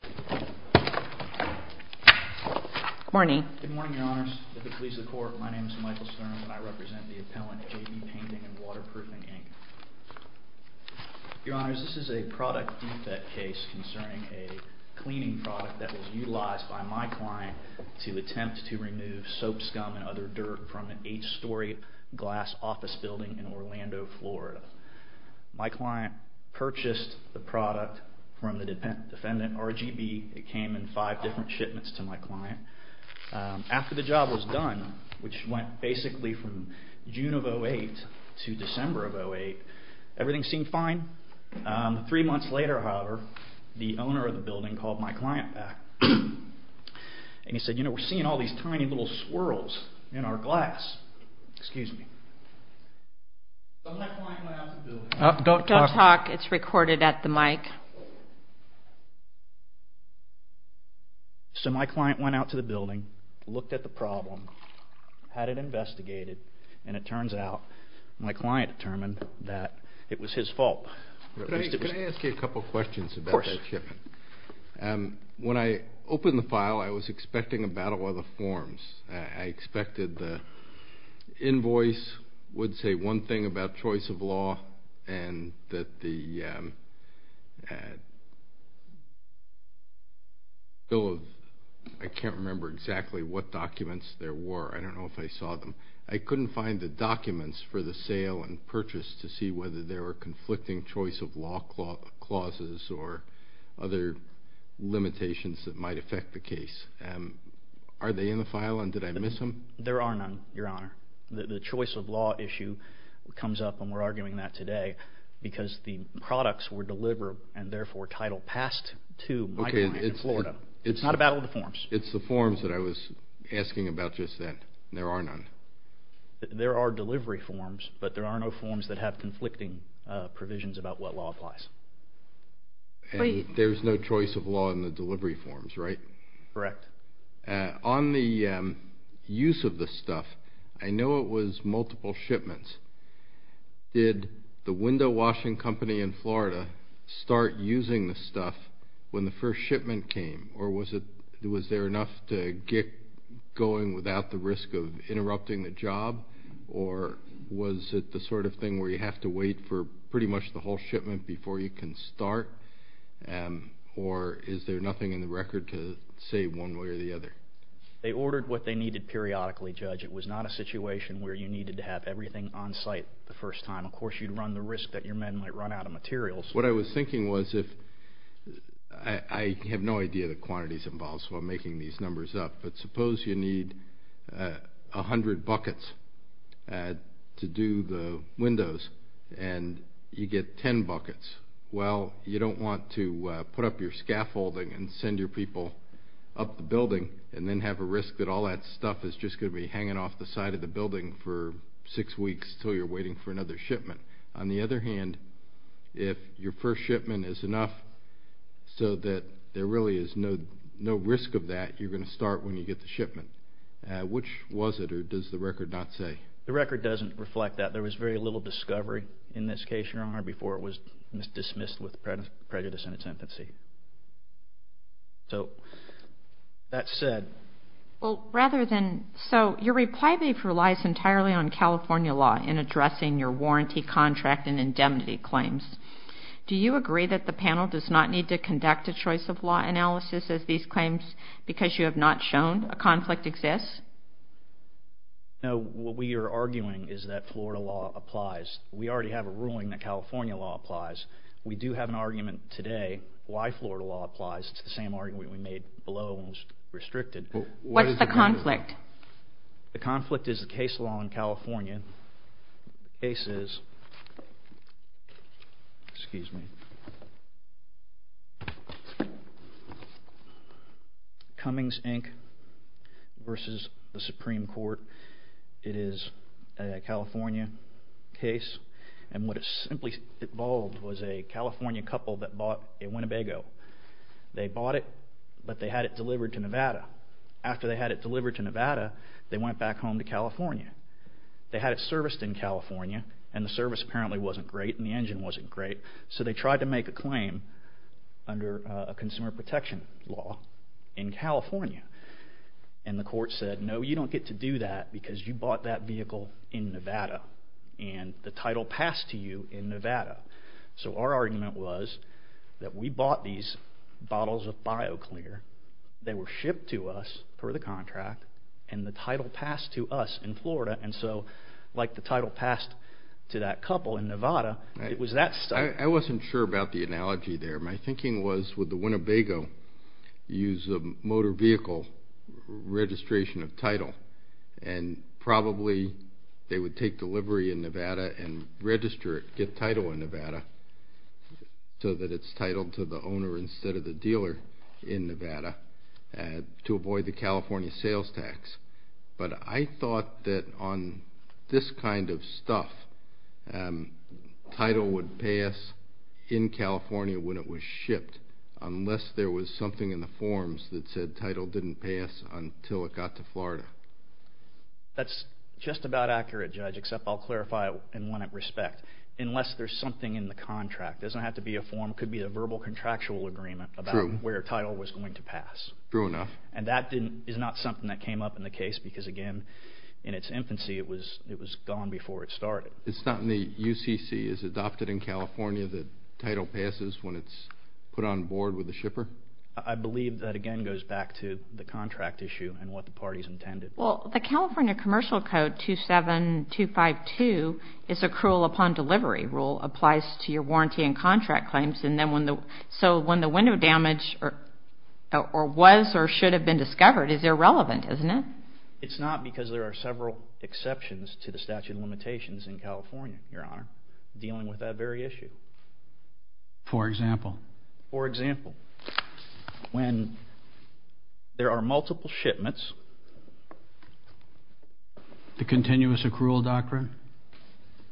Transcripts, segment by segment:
Good morning, Your Honors. At the Police of the Court, my name is Michael Stern and I represent the appellant J.B. Painting and Waterproofing, Inc. Your Honors, this is a product defect case concerning a cleaning product that was utilized by my client to attempt to remove soap scum and other dirt from an eight-story glass office building in Orlando, Florida. My client purchased the product from the defendant, RGB. It came in five different shipments to my client. After the job was done, which went basically from June of 2008 to December of 2008, everything seemed fine. Three months later, however, the owner of the building called my client back and he said, you know, we're seeing all these tiny little swirls in our glass. Excuse me. My client went out to the building, looked at the problem, had it investigated, and it turns out my client determined that it was his fault. Can I ask you a couple questions about that shipment? Of course. When I opened the file, I was expecting a battle of the forms. I expected the invoice would say one thing about choice of law and that the bill of – I can't remember exactly what documents there were. I don't know if I saw them. I couldn't find the documents for the sale and purchase to see whether there were conflicting choice of law clauses or other limitations that might affect the case. Are they in the file and did I miss them? There are none, Your Honor. The choice of law issue comes up and we're arguing that today because the products were delivered and therefore title passed to my client in Florida. It's not a battle of the forms. It's the forms that I was asking about just then. There are none. There are delivery forms, but there are no forms that have conflicting provisions about what law applies. There's no choice of law in the delivery forms, right? Correct. On the use of the stuff, I know it was multiple shipments. Did the window washing company in Florida start using the stuff when the first shipment came or was there enough to get going without the risk of interrupting the job or was it the sort of thing where you have to wait for pretty much the whole shipment before you can start or is there nothing in the record to say one way or the other? They ordered what they needed periodically, Judge. It was not a situation where you needed to have everything on site the first time. Of course, you'd run the risk that your men might run out of materials. What I was thinking was if I have no idea the quantities involved, so I'm making these numbers up, but suppose you need 100 buckets to do the windows and you get 10 buckets. Well, you don't want to put up your scaffolding and send your people up the building and then have a risk that all that stuff is just going to be hanging off the side of the building for six weeks until you're waiting for another shipment. On the other hand, if your first shipment is enough so that there really is no risk of that, you're going to start when you get the shipment. Which was it or does the record not say? The record doesn't reflect that. There was very little discovery in this case, Your Honor, before it was dismissed with prejudice and a sentency. So, that said... Well, rather than... So, your reply brief relies entirely on California law in addressing your warranty contract and indemnity claims. Do you agree that the panel does not need to conduct a choice of law analysis of these claims because you have not shown a conflict exists? No, what we are arguing is that Florida law applies. We already have a ruling that California law applies. We do have an argument today why Florida law applies. It's the same argument we made below when it was restricted. What is the conflict? The conflict is the case law in California. The case is... Excuse me. Cummings, Inc. versus the Supreme Court. It is a California case. And what it simply involved was a California couple that bought a Winnebago. They bought it, but they had it delivered to Nevada. After they had it delivered to Nevada, they went back home to California. They had it serviced in California, and the service apparently wasn't great and the engine wasn't great, so they tried to make a claim under a consumer protection law in California. And the court said, No, you don't get to do that because you bought that vehicle in Nevada. And the title passed to you in Nevada. So our argument was that we bought these bottles of BioClear. They were shipped to us per the contract, and the title passed to us in Florida. And so, like the title passed to that couple in Nevada, it was that stuff. I wasn't sure about the analogy there. My thinking was, would the Winnebago use a motor vehicle registration of title? And probably they would take delivery in Nevada and register it, get title in Nevada, so that it's titled to the owner instead of the dealer in Nevada to avoid the California sales tax. But I thought that on this kind of stuff, title would pass in California when it was shipped, unless there was something in the forms that said the title didn't pass until it got to Florida. That's just about accurate, Judge, except I'll clarify it in one respect. Unless there's something in the contract. It doesn't have to be a form. It could be a verbal contractual agreement about where title was going to pass. True enough. And that is not something that came up in the case because, again, in its infancy it was gone before it started. It's not in the UCC. Is it adopted in California that title passes when it's put on board with the shipper? I believe that, again, goes back to the contract issue and what the parties intended. Well, the California Commercial Code 27252 is a cruel-upon-delivery rule. It applies to your warranty and contract claims. So when the window damage was or should have been discovered, it's irrelevant, isn't it? It's not because there are several exceptions to the statute of limitations in California, Your Honor, dealing with that very issue. For example? For example, when there are multiple shipments. The continuous accrual doctrine?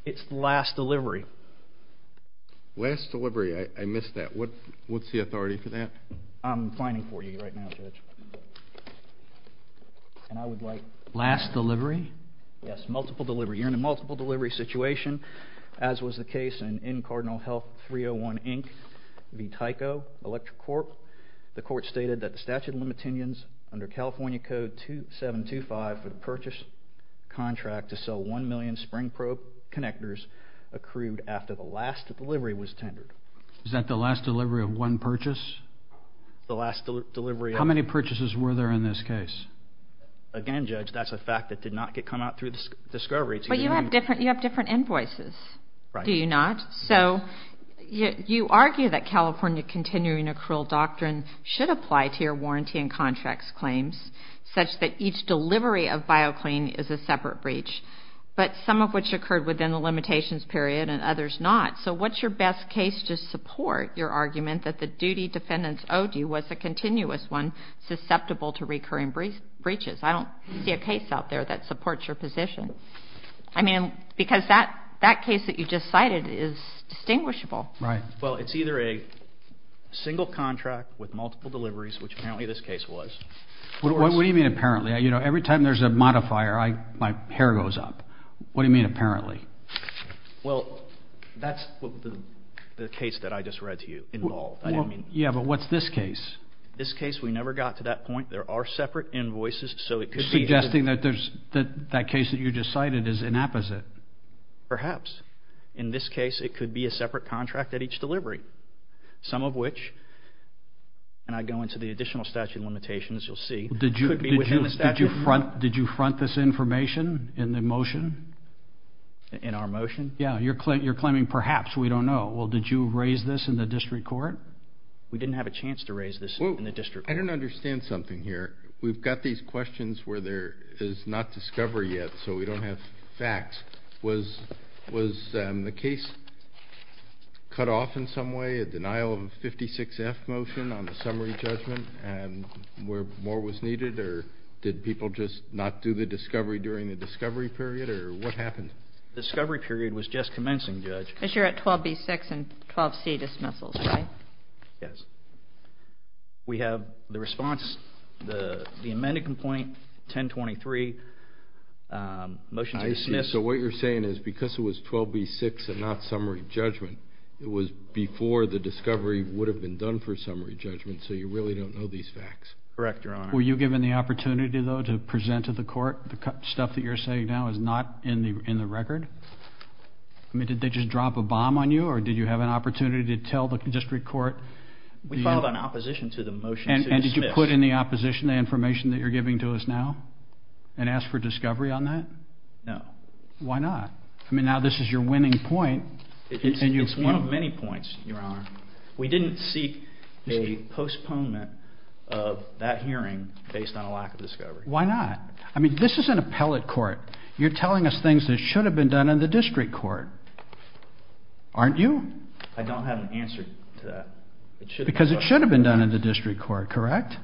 It's last delivery. Last delivery. I missed that. What's the authority for that? I'm fining for you right now, Judge. And I would like last delivery. Yes, multiple delivery. You're in a multiple delivery situation, as was the case in Cardinal Health 301, Inc. v. Tyco Electric Corp. The court stated that the statute of limitations under California Code 2725 for the purchase contract to sell 1 million spring probe connectors accrued after the last delivery was tendered. Is that the last delivery of one purchase? The last delivery. How many purchases were there in this case? Again, Judge, that's a fact that did not come out through discovery. But you have different invoices, do you not? So you argue that California continuing accrual doctrine should apply to your warranty and contracts claims such that each delivery of BioClean is a separate breach, but some of which occurred within the limitations period and others not. So what's your best case to support your argument that the duty defendants owed you was a continuous one susceptible to recurring breaches? I don't see a case out there that supports your position. I mean, because that case that you just cited is distinguishable. Right. Well, it's either a single contract with multiple deliveries, which apparently this case was. What do you mean, apparently? You know, every time there's a modifier, my hair goes up. What do you mean, apparently? Well, that's the case that I just read to you. Yeah, but what's this case? This case, we never got to that point. There are separate invoices, so it could be. Suggesting that that case that you just cited is inapposite. Perhaps. In this case, it could be a separate contract at each delivery, some of which, and I go into the additional statute of limitations, as you'll see, could be within the statute. Did you front this information in the motion? In our motion? Yeah, you're claiming perhaps, we don't know. Well, did you raise this in the district court? We didn't have a chance to raise this in the district court. I don't understand something here. We've got these questions where there is not discovery yet, so we don't have facts. Was the case cut off in some way, a denial of 56F motion on the summary judgment, and where more was needed, or did people just not do the discovery during the discovery period, or what happened? The discovery period was just commencing, Judge. Because you're at 12B6 and 12C dismissals, right? Yes. We have the response, the amended complaint, 1023, motion to dismiss. I see. So what you're saying is because it was 12B6 and not summary judgment, it was before the discovery would have been done for summary judgment, so you really don't know these facts. Correct, Your Honor. Were you given the opportunity, though, to present to the court the stuff that you're saying now is not in the record? I mean, did they just drop a bomb on you, or did you have an opportunity to tell the district court? We filed an opposition to the motion to dismiss. And did you put in the opposition the information that you're giving to us now and ask for discovery on that? No. Why not? I mean, now this is your winning point. It's one of many points, Your Honor. We didn't seek a postponement of that hearing based on a lack of discovery. Why not? I mean, this is an appellate court. You're telling us things that should have been done in the district court, aren't you? I don't have an answer to that. Because it should have been done in the district court, correct?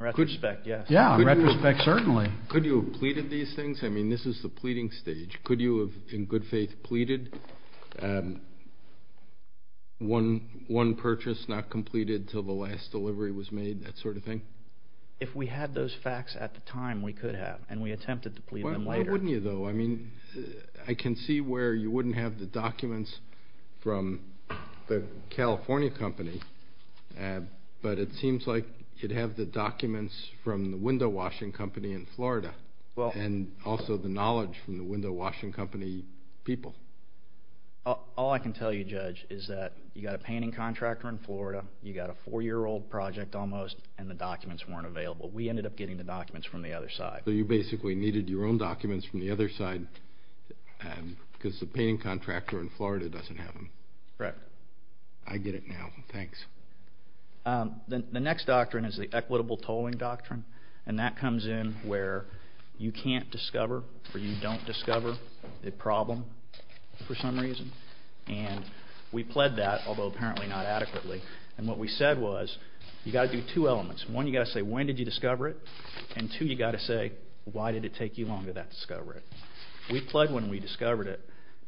In retrospect, yes. Yeah, in retrospect, certainly. Could you have pleaded these things? I mean, this is the pleading stage. Could you have, in good faith, pleaded one purchase not completed until the last delivery was made, that sort of thing? If we had those facts at the time, we could have, and we attempted to plead them later. Why wouldn't you, though? I mean, I can see where you wouldn't have the documents from the California company, but it seems like you'd have the documents from the window-washing company in Florida and also the knowledge from the window-washing company people. All I can tell you, Judge, is that you've got a painting contractor in Florida, you've got a four-year-old project almost, and the documents weren't available. We ended up getting the documents from the other side. So you basically needed your own documents from the other side because the painting contractor in Florida doesn't have them. Correct. I get it now. Thanks. The next doctrine is the equitable tolling doctrine, and that comes in where you can't discover or you don't discover the problem for some reason. We pled that, although apparently not adequately, and what we said was you've got to do two elements. One, you've got to say when did you discover it, and two, you've got to say why did it take you long to discover it. We pled when we discovered it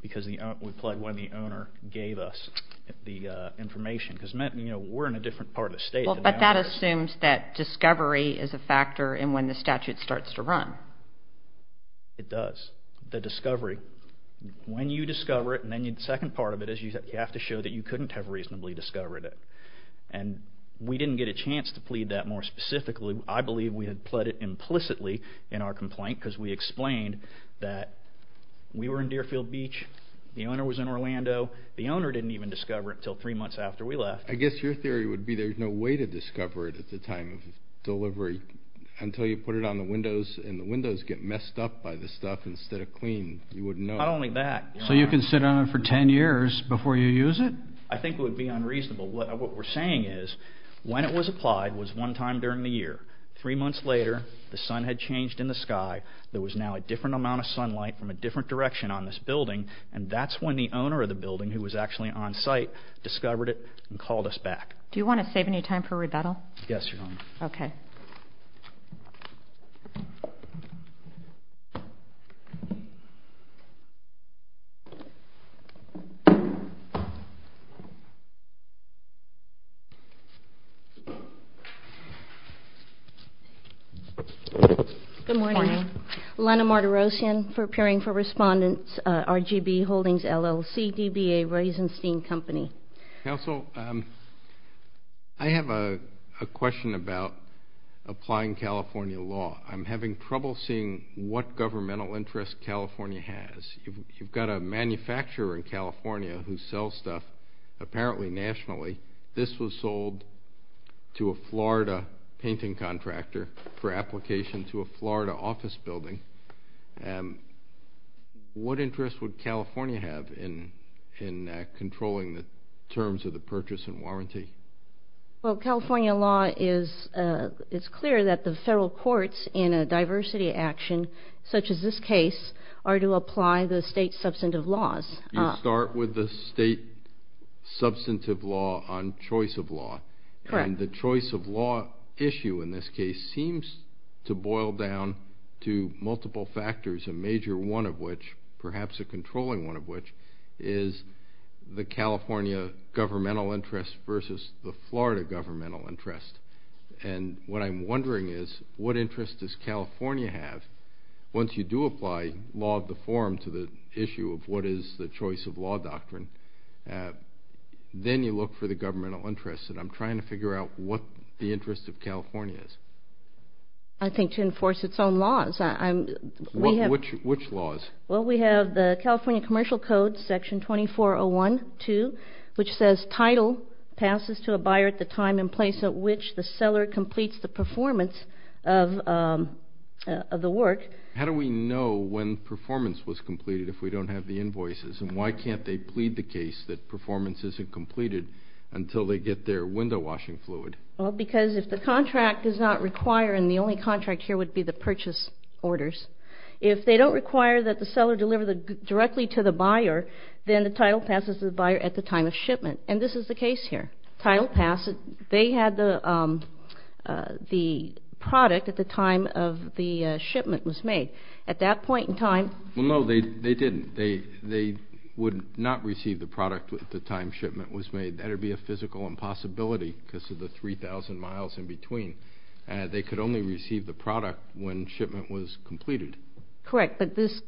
because we pled when the owner gave us the information because we're in a different part of the state. But that assumes that discovery is a factor in when the statute starts to run. It does. The discovery, when you discover it, and then the second part of it is you have to show that you couldn't have reasonably discovered it. And we didn't get a chance to plead that more specifically. I believe we had pled it implicitly in our complaint because we explained that we were in Deerfield Beach. The owner was in Orlando. The owner didn't even discover it until three months after we left. I guess your theory would be there's no way to discover it at the time of delivery until you put it on the windows, and the windows get messed up by the stuff instead of clean. Not only that. So you can sit on it for ten years before you use it? I think it would be unreasonable. What we're saying is when it was applied was one time during the year. Three months later, the sun had changed in the sky. There was now a different amount of sunlight from a different direction on this building, and that's when the owner of the building, who was actually on site, discovered it and called us back. Do you want to save any time for rebuttal? Yes, Your Honor. Okay. Good morning. Lana Martirosyan, for appearing for respondents, RGB Holdings, LLC, DBA, Rosenstein Company. Counsel, I have a question about applying California law. I'm having trouble seeing what governmental interest California has. You've got a manufacturer in California who sells stuff apparently nationally. This was sold to a Florida painting contractor for application to a Florida office building. What interest would California have in controlling the terms of the purchase and warranty? Well, California law is clear that the federal courts in a diversity action such as this case are to apply the state substantive laws. You start with the state substantive law on choice of law. Correct. And the choice of law issue in this case seems to boil down to multiple factors, a major one of which, perhaps a controlling one of which, is the California governmental interest versus the Florida governmental interest. And what I'm wondering is, what interest does California have? Once you do apply law of the forum to the issue of what is the choice of law doctrine, then you look for the governmental interest. And I'm trying to figure out what the interest of California is. I think to enforce its own laws. Which laws? Well, we have the California Commercial Code, Section 2401.2, which says title passes to a buyer at the time and place at which the seller completes the performance of the work. How do we know when performance was completed if we don't have the invoices? And why can't they plead the case that performance isn't completed until they get their window washing fluid? Well, because if the contract does not require, and the only contract here would be the purchase orders, if they don't require that the seller deliver directly to the buyer, then the title passes to the buyer at the time of shipment. And this is the case here. Title passes. They had the product at the time of the shipment was made. At that point in time. Well, no, they didn't. They would not receive the product at the time shipment was made. That would be a physical impossibility because of the 3,000 miles in between. They could only receive the product when shipment was completed. Correct, but this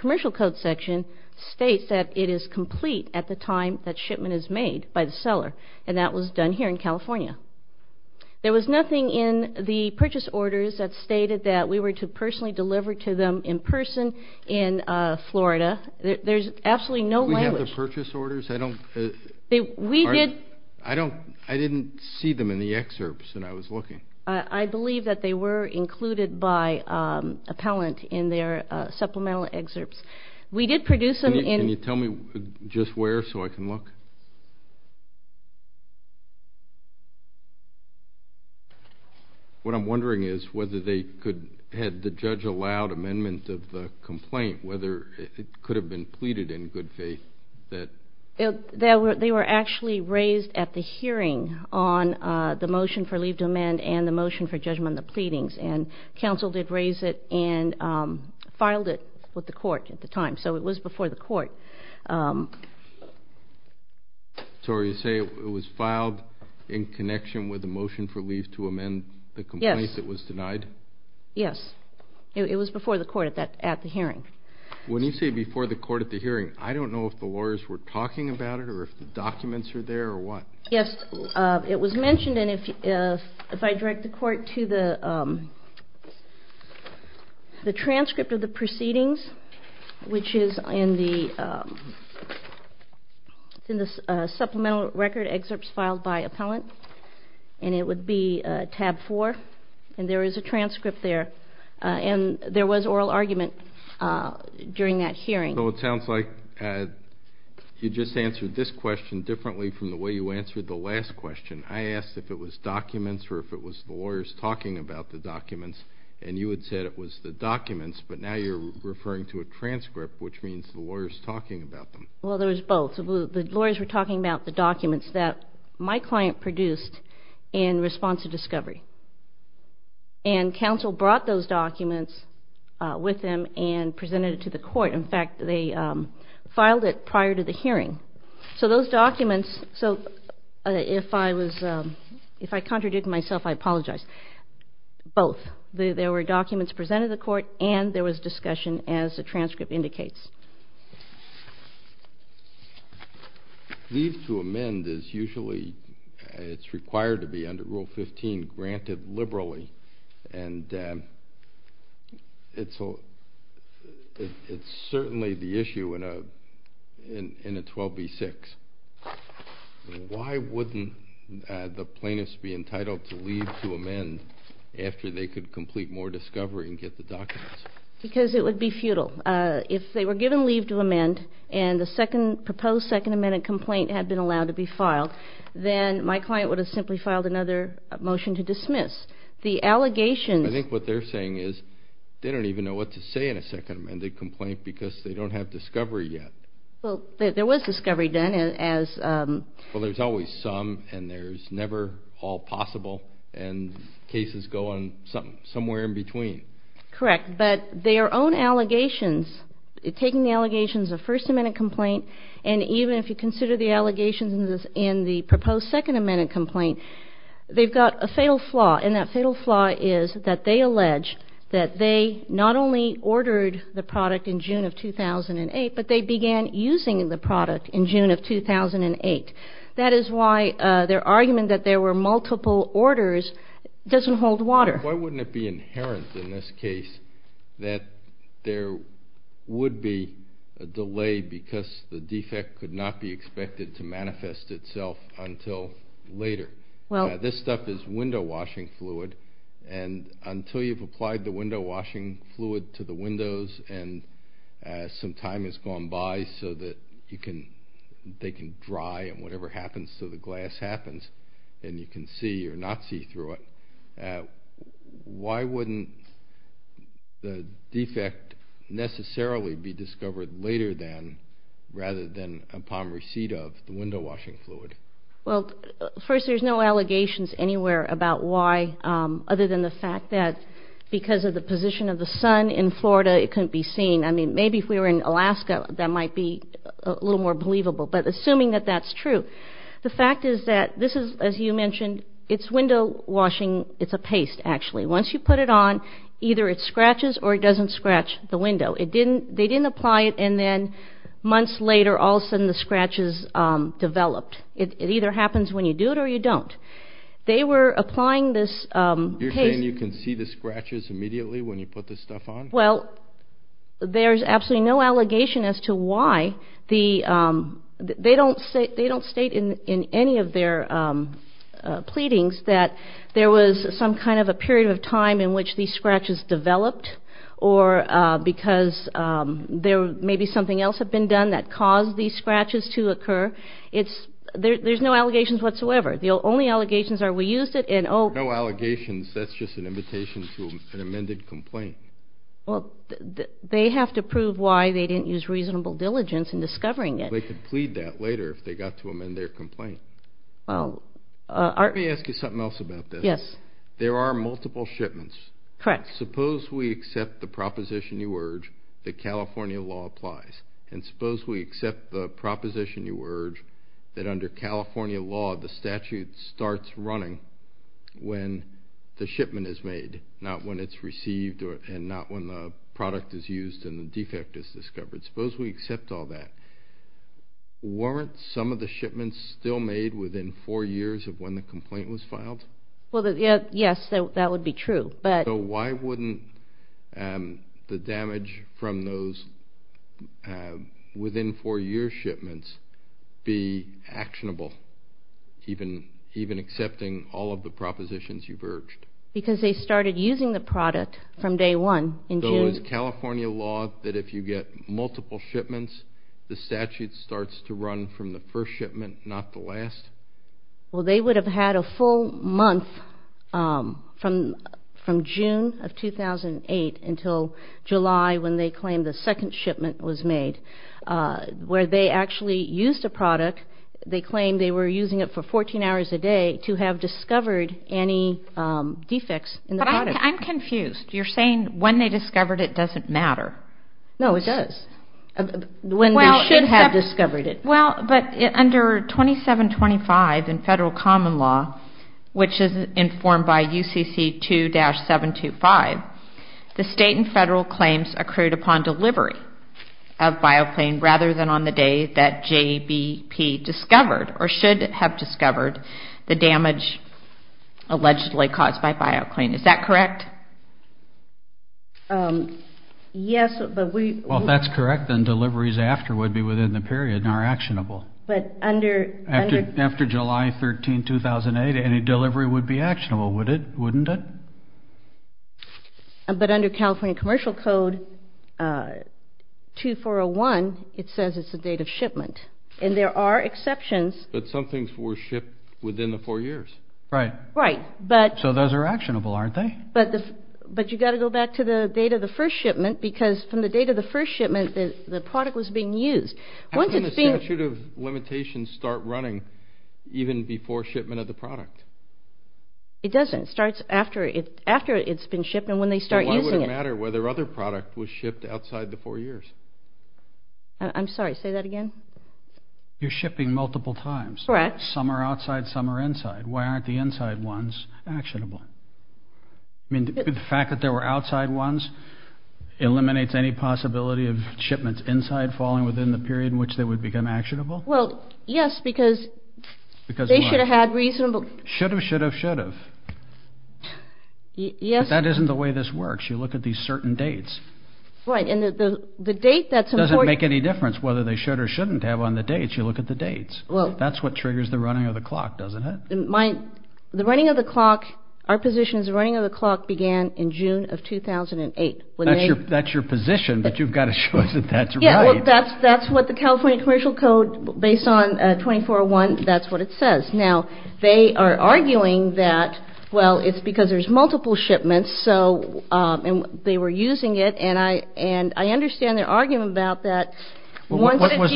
commercial code section states that it is complete at the time that shipment is made by the seller. And that was done here in California. There was nothing in the purchase orders that stated that we were to personally deliver to them in person in Florida. There's absolutely no language. Do we have the purchase orders? I don't. We did. I don't. I didn't see them in the excerpts when I was looking. I believe that they were included by appellant in their supplemental excerpts. Can you tell me just where so I can look? What I'm wondering is whether they could have the judge allowed amendment of the complaint, whether it could have been pleaded in good faith. They were actually raised at the hearing on the motion for leave to amend and the motion for judgment on the pleadings. And counsel did raise it and filed it with the court at the time. So it was before the court. So you say it was filed in connection with the motion for leave to amend the complaint that was denied? Yes. It was before the court at the hearing. When you say before the court at the hearing, I don't know if the lawyers were talking about it or if the documents are there or what. Yes, it was mentioned. And if I direct the court to the transcript of the proceedings, which is in the supplemental record excerpts filed by appellant, and it would be tab 4. And there is a transcript there. And there was oral argument during that hearing. So it sounds like you just answered this question differently from the way you answered the last question. I asked if it was documents or if it was the lawyers talking about the documents, and you had said it was the documents, but now you're referring to a transcript, which means the lawyers talking about them. Well, there was both. The lawyers were talking about the documents that my client produced in response to discovery. And counsel brought those documents with them and presented it to the court. In fact, they filed it prior to the hearing. So those documents, so if I contradict myself, I apologize. Both. There were documents presented to the court and there was discussion, as the transcript indicates. Leave to amend is usually, it's required to be under Rule 15, granted liberally. And it's certainly the issue in a 12b-6. Why wouldn't the plaintiffs be entitled to leave to amend after they could complete more discovery and get the documents? Because it would be futile. If they were given leave to amend and the second proposed second amendment complaint had been allowed to be filed, then my client would have simply filed another motion to dismiss. The allegations. I think what they're saying is they don't even know what to say in a second amended complaint because they don't have discovery yet. Well, there was discovery done as. Well, there's always some, and there's never all possible, and cases go somewhere in between. Correct. But their own allegations, taking the allegations of first amendment complaint, and even if you consider the allegations in the proposed second amendment complaint, they've got a fatal flaw, and that fatal flaw is that they allege that they not only ordered the product in June of 2008, but they began using the product in June of 2008. That is why their argument that there were multiple orders doesn't hold water. Why wouldn't it be inherent in this case that there would be a delay because the defect could not be expected to manifest itself until later? This stuff is window washing fluid, and until you've applied the window washing fluid to the windows and some time has gone by so that they can dry and whatever happens to the glass happens and you can see or not see through it, why wouldn't the defect necessarily be discovered later than, rather than upon receipt of the window washing fluid? Well, first there's no allegations anywhere about why other than the fact that because of the position of the sun in Florida it couldn't be seen. I mean, maybe if we were in Alaska that might be a little more believable, but assuming that that's true. The fact is that this is, as you mentioned, it's window washing. It's a paste, actually. Once you put it on, either it scratches or it doesn't scratch the window. They didn't apply it and then months later all of a sudden the scratches developed. It either happens when you do it or you don't. They were applying this paste. You're saying you can see the scratches immediately when you put this stuff on? Well, there's absolutely no allegation as to why. They don't state in any of their pleadings that there was some kind of a period of time in which these scratches developed or because maybe something else had been done that caused these scratches to occur. There's no allegations whatsoever. The only allegations are we used it and oh. No allegations. That's just an invitation to an amended complaint. Well, they have to prove why they didn't use reasonable diligence in discovering it. They could plead that later if they got to amend their complaint. Let me ask you something else about this. Yes. There are multiple shipments. Correct. Suppose we accept the proposition you urge that California law applies and suppose we accept the proposition you urge that under California law the statute starts running when the shipment is made, not when it's received and not when the product is used and the defect is discovered. Suppose we accept all that. Weren't some of the shipments still made within four years of when the complaint was filed? Yes, that would be true. So why wouldn't the damage from those within four year shipments be actionable, even accepting all of the propositions you've urged? Because they started using the product from day one in June. So is California law that if you get multiple shipments, the statute starts to run from the first shipment, not the last? Well, they would have had a full month from June of 2008 until July when they claimed the second shipment was made where they actually used a product. They claimed they were using it for 14 hours a day to have discovered any defects in the product. But I'm confused. You're saying when they discovered it doesn't matter. No, it does. When they should have discovered it. Well, but under 2725 in federal common law, which is informed by UCC 2-725, the state and federal claims accrued upon delivery of Bioclean rather than on the day that JBP discovered or should have discovered the damage allegedly caused by Bioclean. Is that correct? Yes, but we— Well, if that's correct, then deliveries after would be within the period and are actionable. But under— After July 13, 2008, any delivery would be actionable, wouldn't it? But under California Commercial Code 2401, it says it's the date of shipment. And there are exceptions. But some things were shipped within the four years. Right. Right, but— So those are actionable, aren't they? But you've got to go back to the date of the first shipment because from the date of the first shipment, the product was being used. How can the statute of limitations start running even before shipment of the product? It doesn't. It starts after it's been shipped and when they start using it. So why would it matter whether other product was shipped outside the four years? I'm sorry, say that again? You're shipping multiple times. Correct. Some are outside, some are inside. Why aren't the inside ones actionable? I mean, the fact that there were outside ones eliminates any possibility of shipments inside falling within the period in which they would become actionable? Well, yes, because they should have had reasonable— Should have, should have, should have. Yes. But that isn't the way this works. You look at these certain dates. Right, and the date that's important— It doesn't make any difference whether they should or shouldn't have on the dates. You look at the dates. Well— That's what triggers the running of the clock, doesn't it? The running of the clock, our position is the running of the clock began in June of 2008. That's your position, but you've got to show us that that's right. Yes, well, that's what the California Commercial Code, based on 2401, that's what it says. Now, they are arguing that, well, it's because there's multiple shipments, and they were using it, and I understand their argument about that. You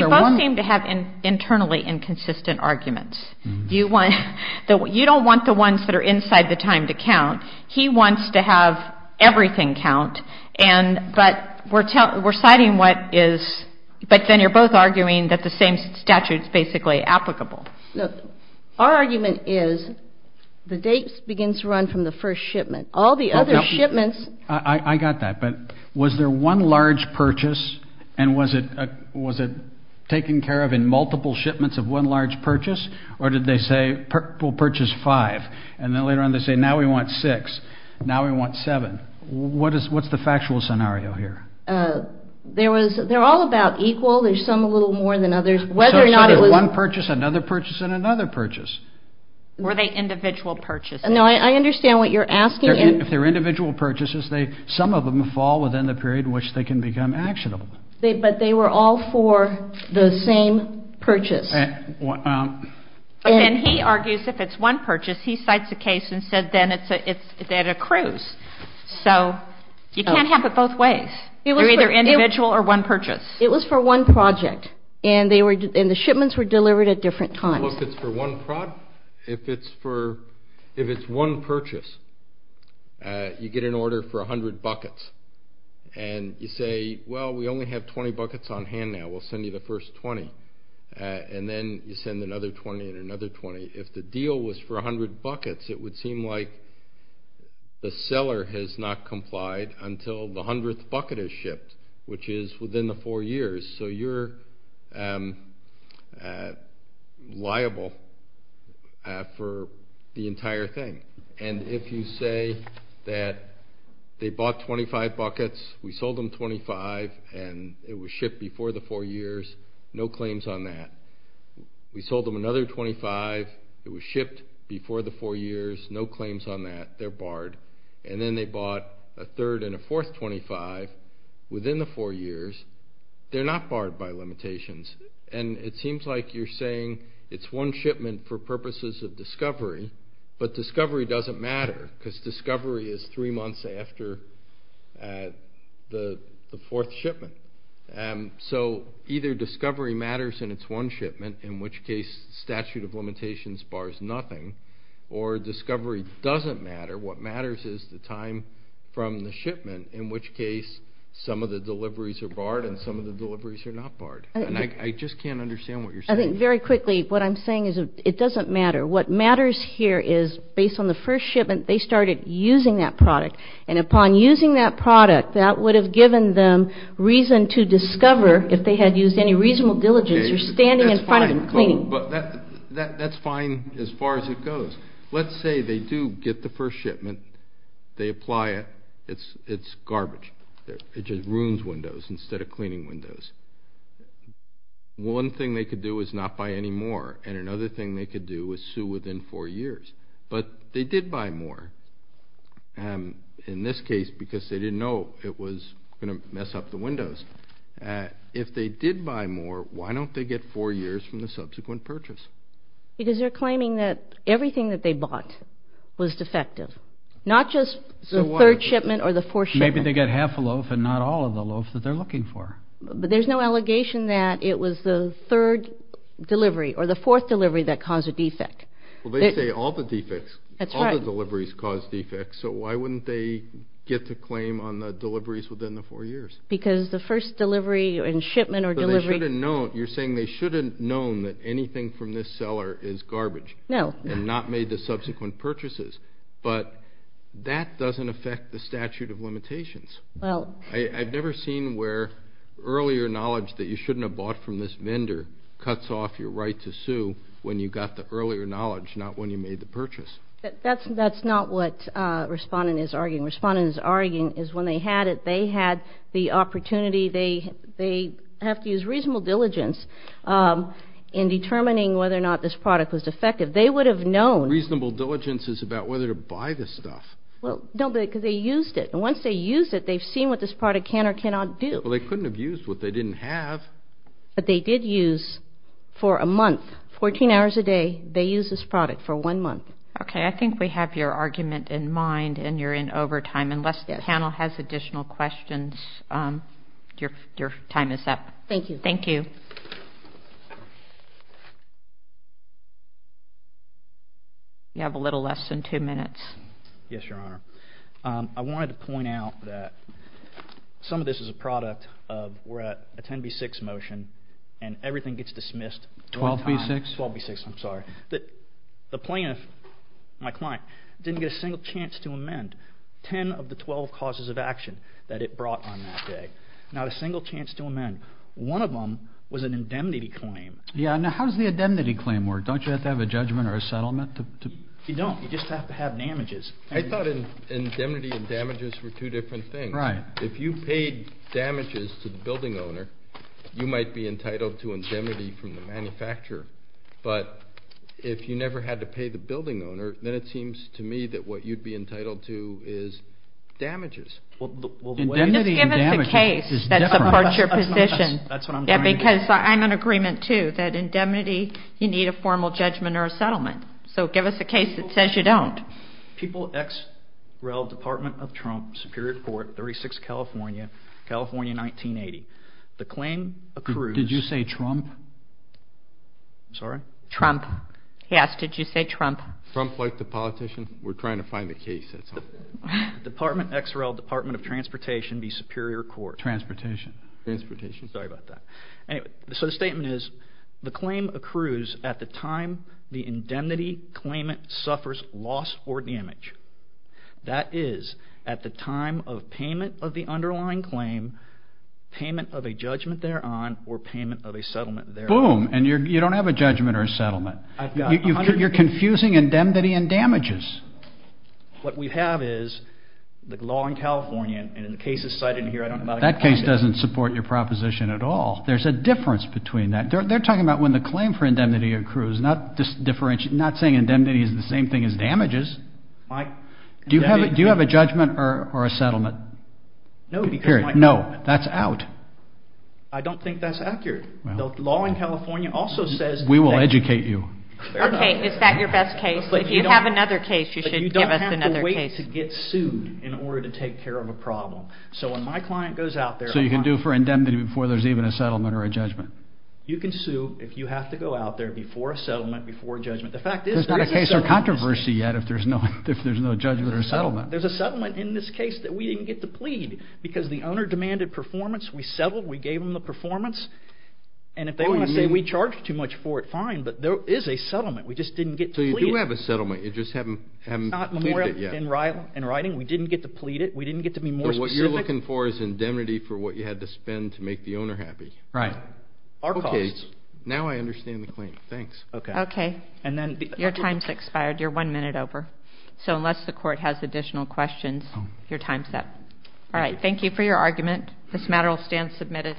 both seem to have internally inconsistent arguments. You want—you don't want the ones that are inside the time to count. He wants to have everything count, but we're citing what is— but then you're both arguing that the same statute is basically applicable. Look, our argument is the dates begin to run from the first shipment. All the other shipments— I got that, but was there one large purchase, and was it taken care of in multiple shipments of one large purchase? Or did they say, we'll purchase five, and then later on they say, now we want six, now we want seven? What's the factual scenario here? There was—they're all about equal. There's some a little more than others. So it's one purchase, another purchase, and another purchase. Were they individual purchases? No, I understand what you're asking. If they're individual purchases, some of them fall within the period in which they can become actionable. But they were all for the same purchase. But then he argues if it's one purchase, he cites a case and said then it's at a cruise. So you can't have it both ways. They're either individual or one purchase. It was for one project, and the shipments were delivered at different times. Look, it's for one—if it's for—if it's one purchase, you get an order for 100 buckets. And you say, well, we only have 20 buckets on hand now. We'll send you the first 20. And then you send another 20 and another 20. If the deal was for 100 buckets, it would seem like the seller has not complied until the 100th bucket is shipped, which is within the four years. So you're liable for the entire thing. And if you say that they bought 25 buckets. We sold them 25, and it was shipped before the four years. No claims on that. We sold them another 25. It was shipped before the four years. No claims on that. They're barred. And then they bought a third and a fourth 25 within the four years. They're not barred by limitations. And it seems like you're saying it's one shipment for purposes of discovery, but discovery doesn't matter because discovery is three months after the fourth shipment. So either discovery matters and it's one shipment, in which case statute of limitations bars nothing, or discovery doesn't matter. What matters is the time from the shipment, in which case some of the deliveries are barred and some of the deliveries are not barred. And I just can't understand what you're saying. I think very quickly what I'm saying is it doesn't matter. What matters here is based on the first shipment, they started using that product. And upon using that product, that would have given them reason to discover if they had used any reasonable diligence or standing in front of them cleaning. That's fine as far as it goes. Let's say they do get the first shipment. They apply it. It's garbage. It just ruins windows instead of cleaning windows. One thing they could do is not buy any more. And another thing they could do is sue within four years. But they did buy more in this case because they didn't know it was going to mess up the windows. If they did buy more, why don't they get four years from the subsequent purchase? Because they're claiming that everything that they bought was defective, not just the third shipment or the fourth shipment. Maybe they got half a loaf and not all of the loaf that they're looking for. But there's no allegation that it was the third delivery or the fourth delivery that caused a defect. Well, they say all the defects. That's right. All the deliveries cause defects. So why wouldn't they get the claim on the deliveries within the four years? Because the first delivery and shipment or delivery. But they should have known. You're saying they should have known that anything from this seller is garbage. No. And not made the subsequent purchases. But that doesn't affect the statute of limitations. Well. I've never seen where earlier knowledge that you shouldn't have bought from this vendor cuts off your right to sue when you got the earlier knowledge, not when you made the purchase. That's not what Respondent is arguing. Respondent is arguing is when they had it, they had the opportunity. They have to use reasonable diligence in determining whether or not this product was defective. They would have known. Reasonable diligence is about whether to buy this stuff. Well, no, because they used it. And once they use it, they've seen what this product can or cannot do. Well, they couldn't have used what they didn't have. But they did use for a month, 14 hours a day, they used this product for one month. Okay. I think we have your argument in mind, and you're in overtime. Unless the panel has additional questions, your time is up. Thank you. Thank you. You have a little less than two minutes. Yes, Your Honor. I wanted to point out that some of this is a product of we're at a 10B6 motion, and everything gets dismissed one time. 12B6? 12B6, I'm sorry. The plaintiff, my client, didn't get a single chance to amend 10 of the 12 causes of action that it brought on that day. Not a single chance to amend. One of them was an indemnity claim. Yes. Now, how does the indemnity claim work? Don't you have to have a judgment or a settlement? You don't. You just have to have damages. I thought indemnity and damages were two different things. Right. If you paid damages to the building owner, you might be entitled to indemnity from the manufacturer. But if you never had to pay the building owner, then it seems to me that what you'd be entitled to is damages. Indemnity and damages is different. Just give us a case that supports your position. Because I'm in agreement, too, that indemnity, you need a formal judgment or a settlement. So give us a case that says you don't. People, X, Rel, Department of Trump, Superior Court, 36, California, California, 1980. The claim accrues. Did you say Trump? I'm sorry? Trump. Yes, did you say Trump? Trump, like the politician. We're trying to find the case. Department, X, Rel, Department of Transportation, the Superior Court. Transportation. Transportation. Sorry about that. So the statement is the claim accrues at the time the indemnity claimant suffers loss or damage. That is at the time of payment of the underlying claim, payment of a judgment thereon, or payment of a settlement thereon. Boom, and you don't have a judgment or a settlement. You're confusing indemnity and damages. What we have is the law in California, and the case is cited here. That case doesn't support your proposition at all. There's a difference between that. They're talking about when the claim for indemnity accrues, not saying indemnity is the same thing as damages. Do you have a judgment or a settlement? No, because my client. No, that's out. I don't think that's accurate. The law in California also says that. We will educate you. Okay, is that your best case? If you have another case, you should give us another case. But you don't have to wait to get sued in order to take care of a problem. So you can do for indemnity before there's even a settlement or a judgment? You can sue if you have to go out there before a settlement, before a judgment. There's not a case or controversy yet if there's no judgment or settlement. There's a settlement in this case that we didn't get to plead because the owner demanded performance. We settled. We gave him the performance. And if they want to say we charged too much for it, fine, but there is a settlement. We just didn't get to plead it. So you do have a settlement. You just haven't pleaded it yet. In writing, we didn't get to plead it. We didn't get to be more specific. So what you're looking for is indemnity for what you had to spend to make the owner happy. Right. Our costs. Okay, now I understand the claim. Thanks. Okay. Okay. Your time's expired. You're one minute over. So unless the court has additional questions, your time's up. All right, thank you for your argument. This matter will stand submitted.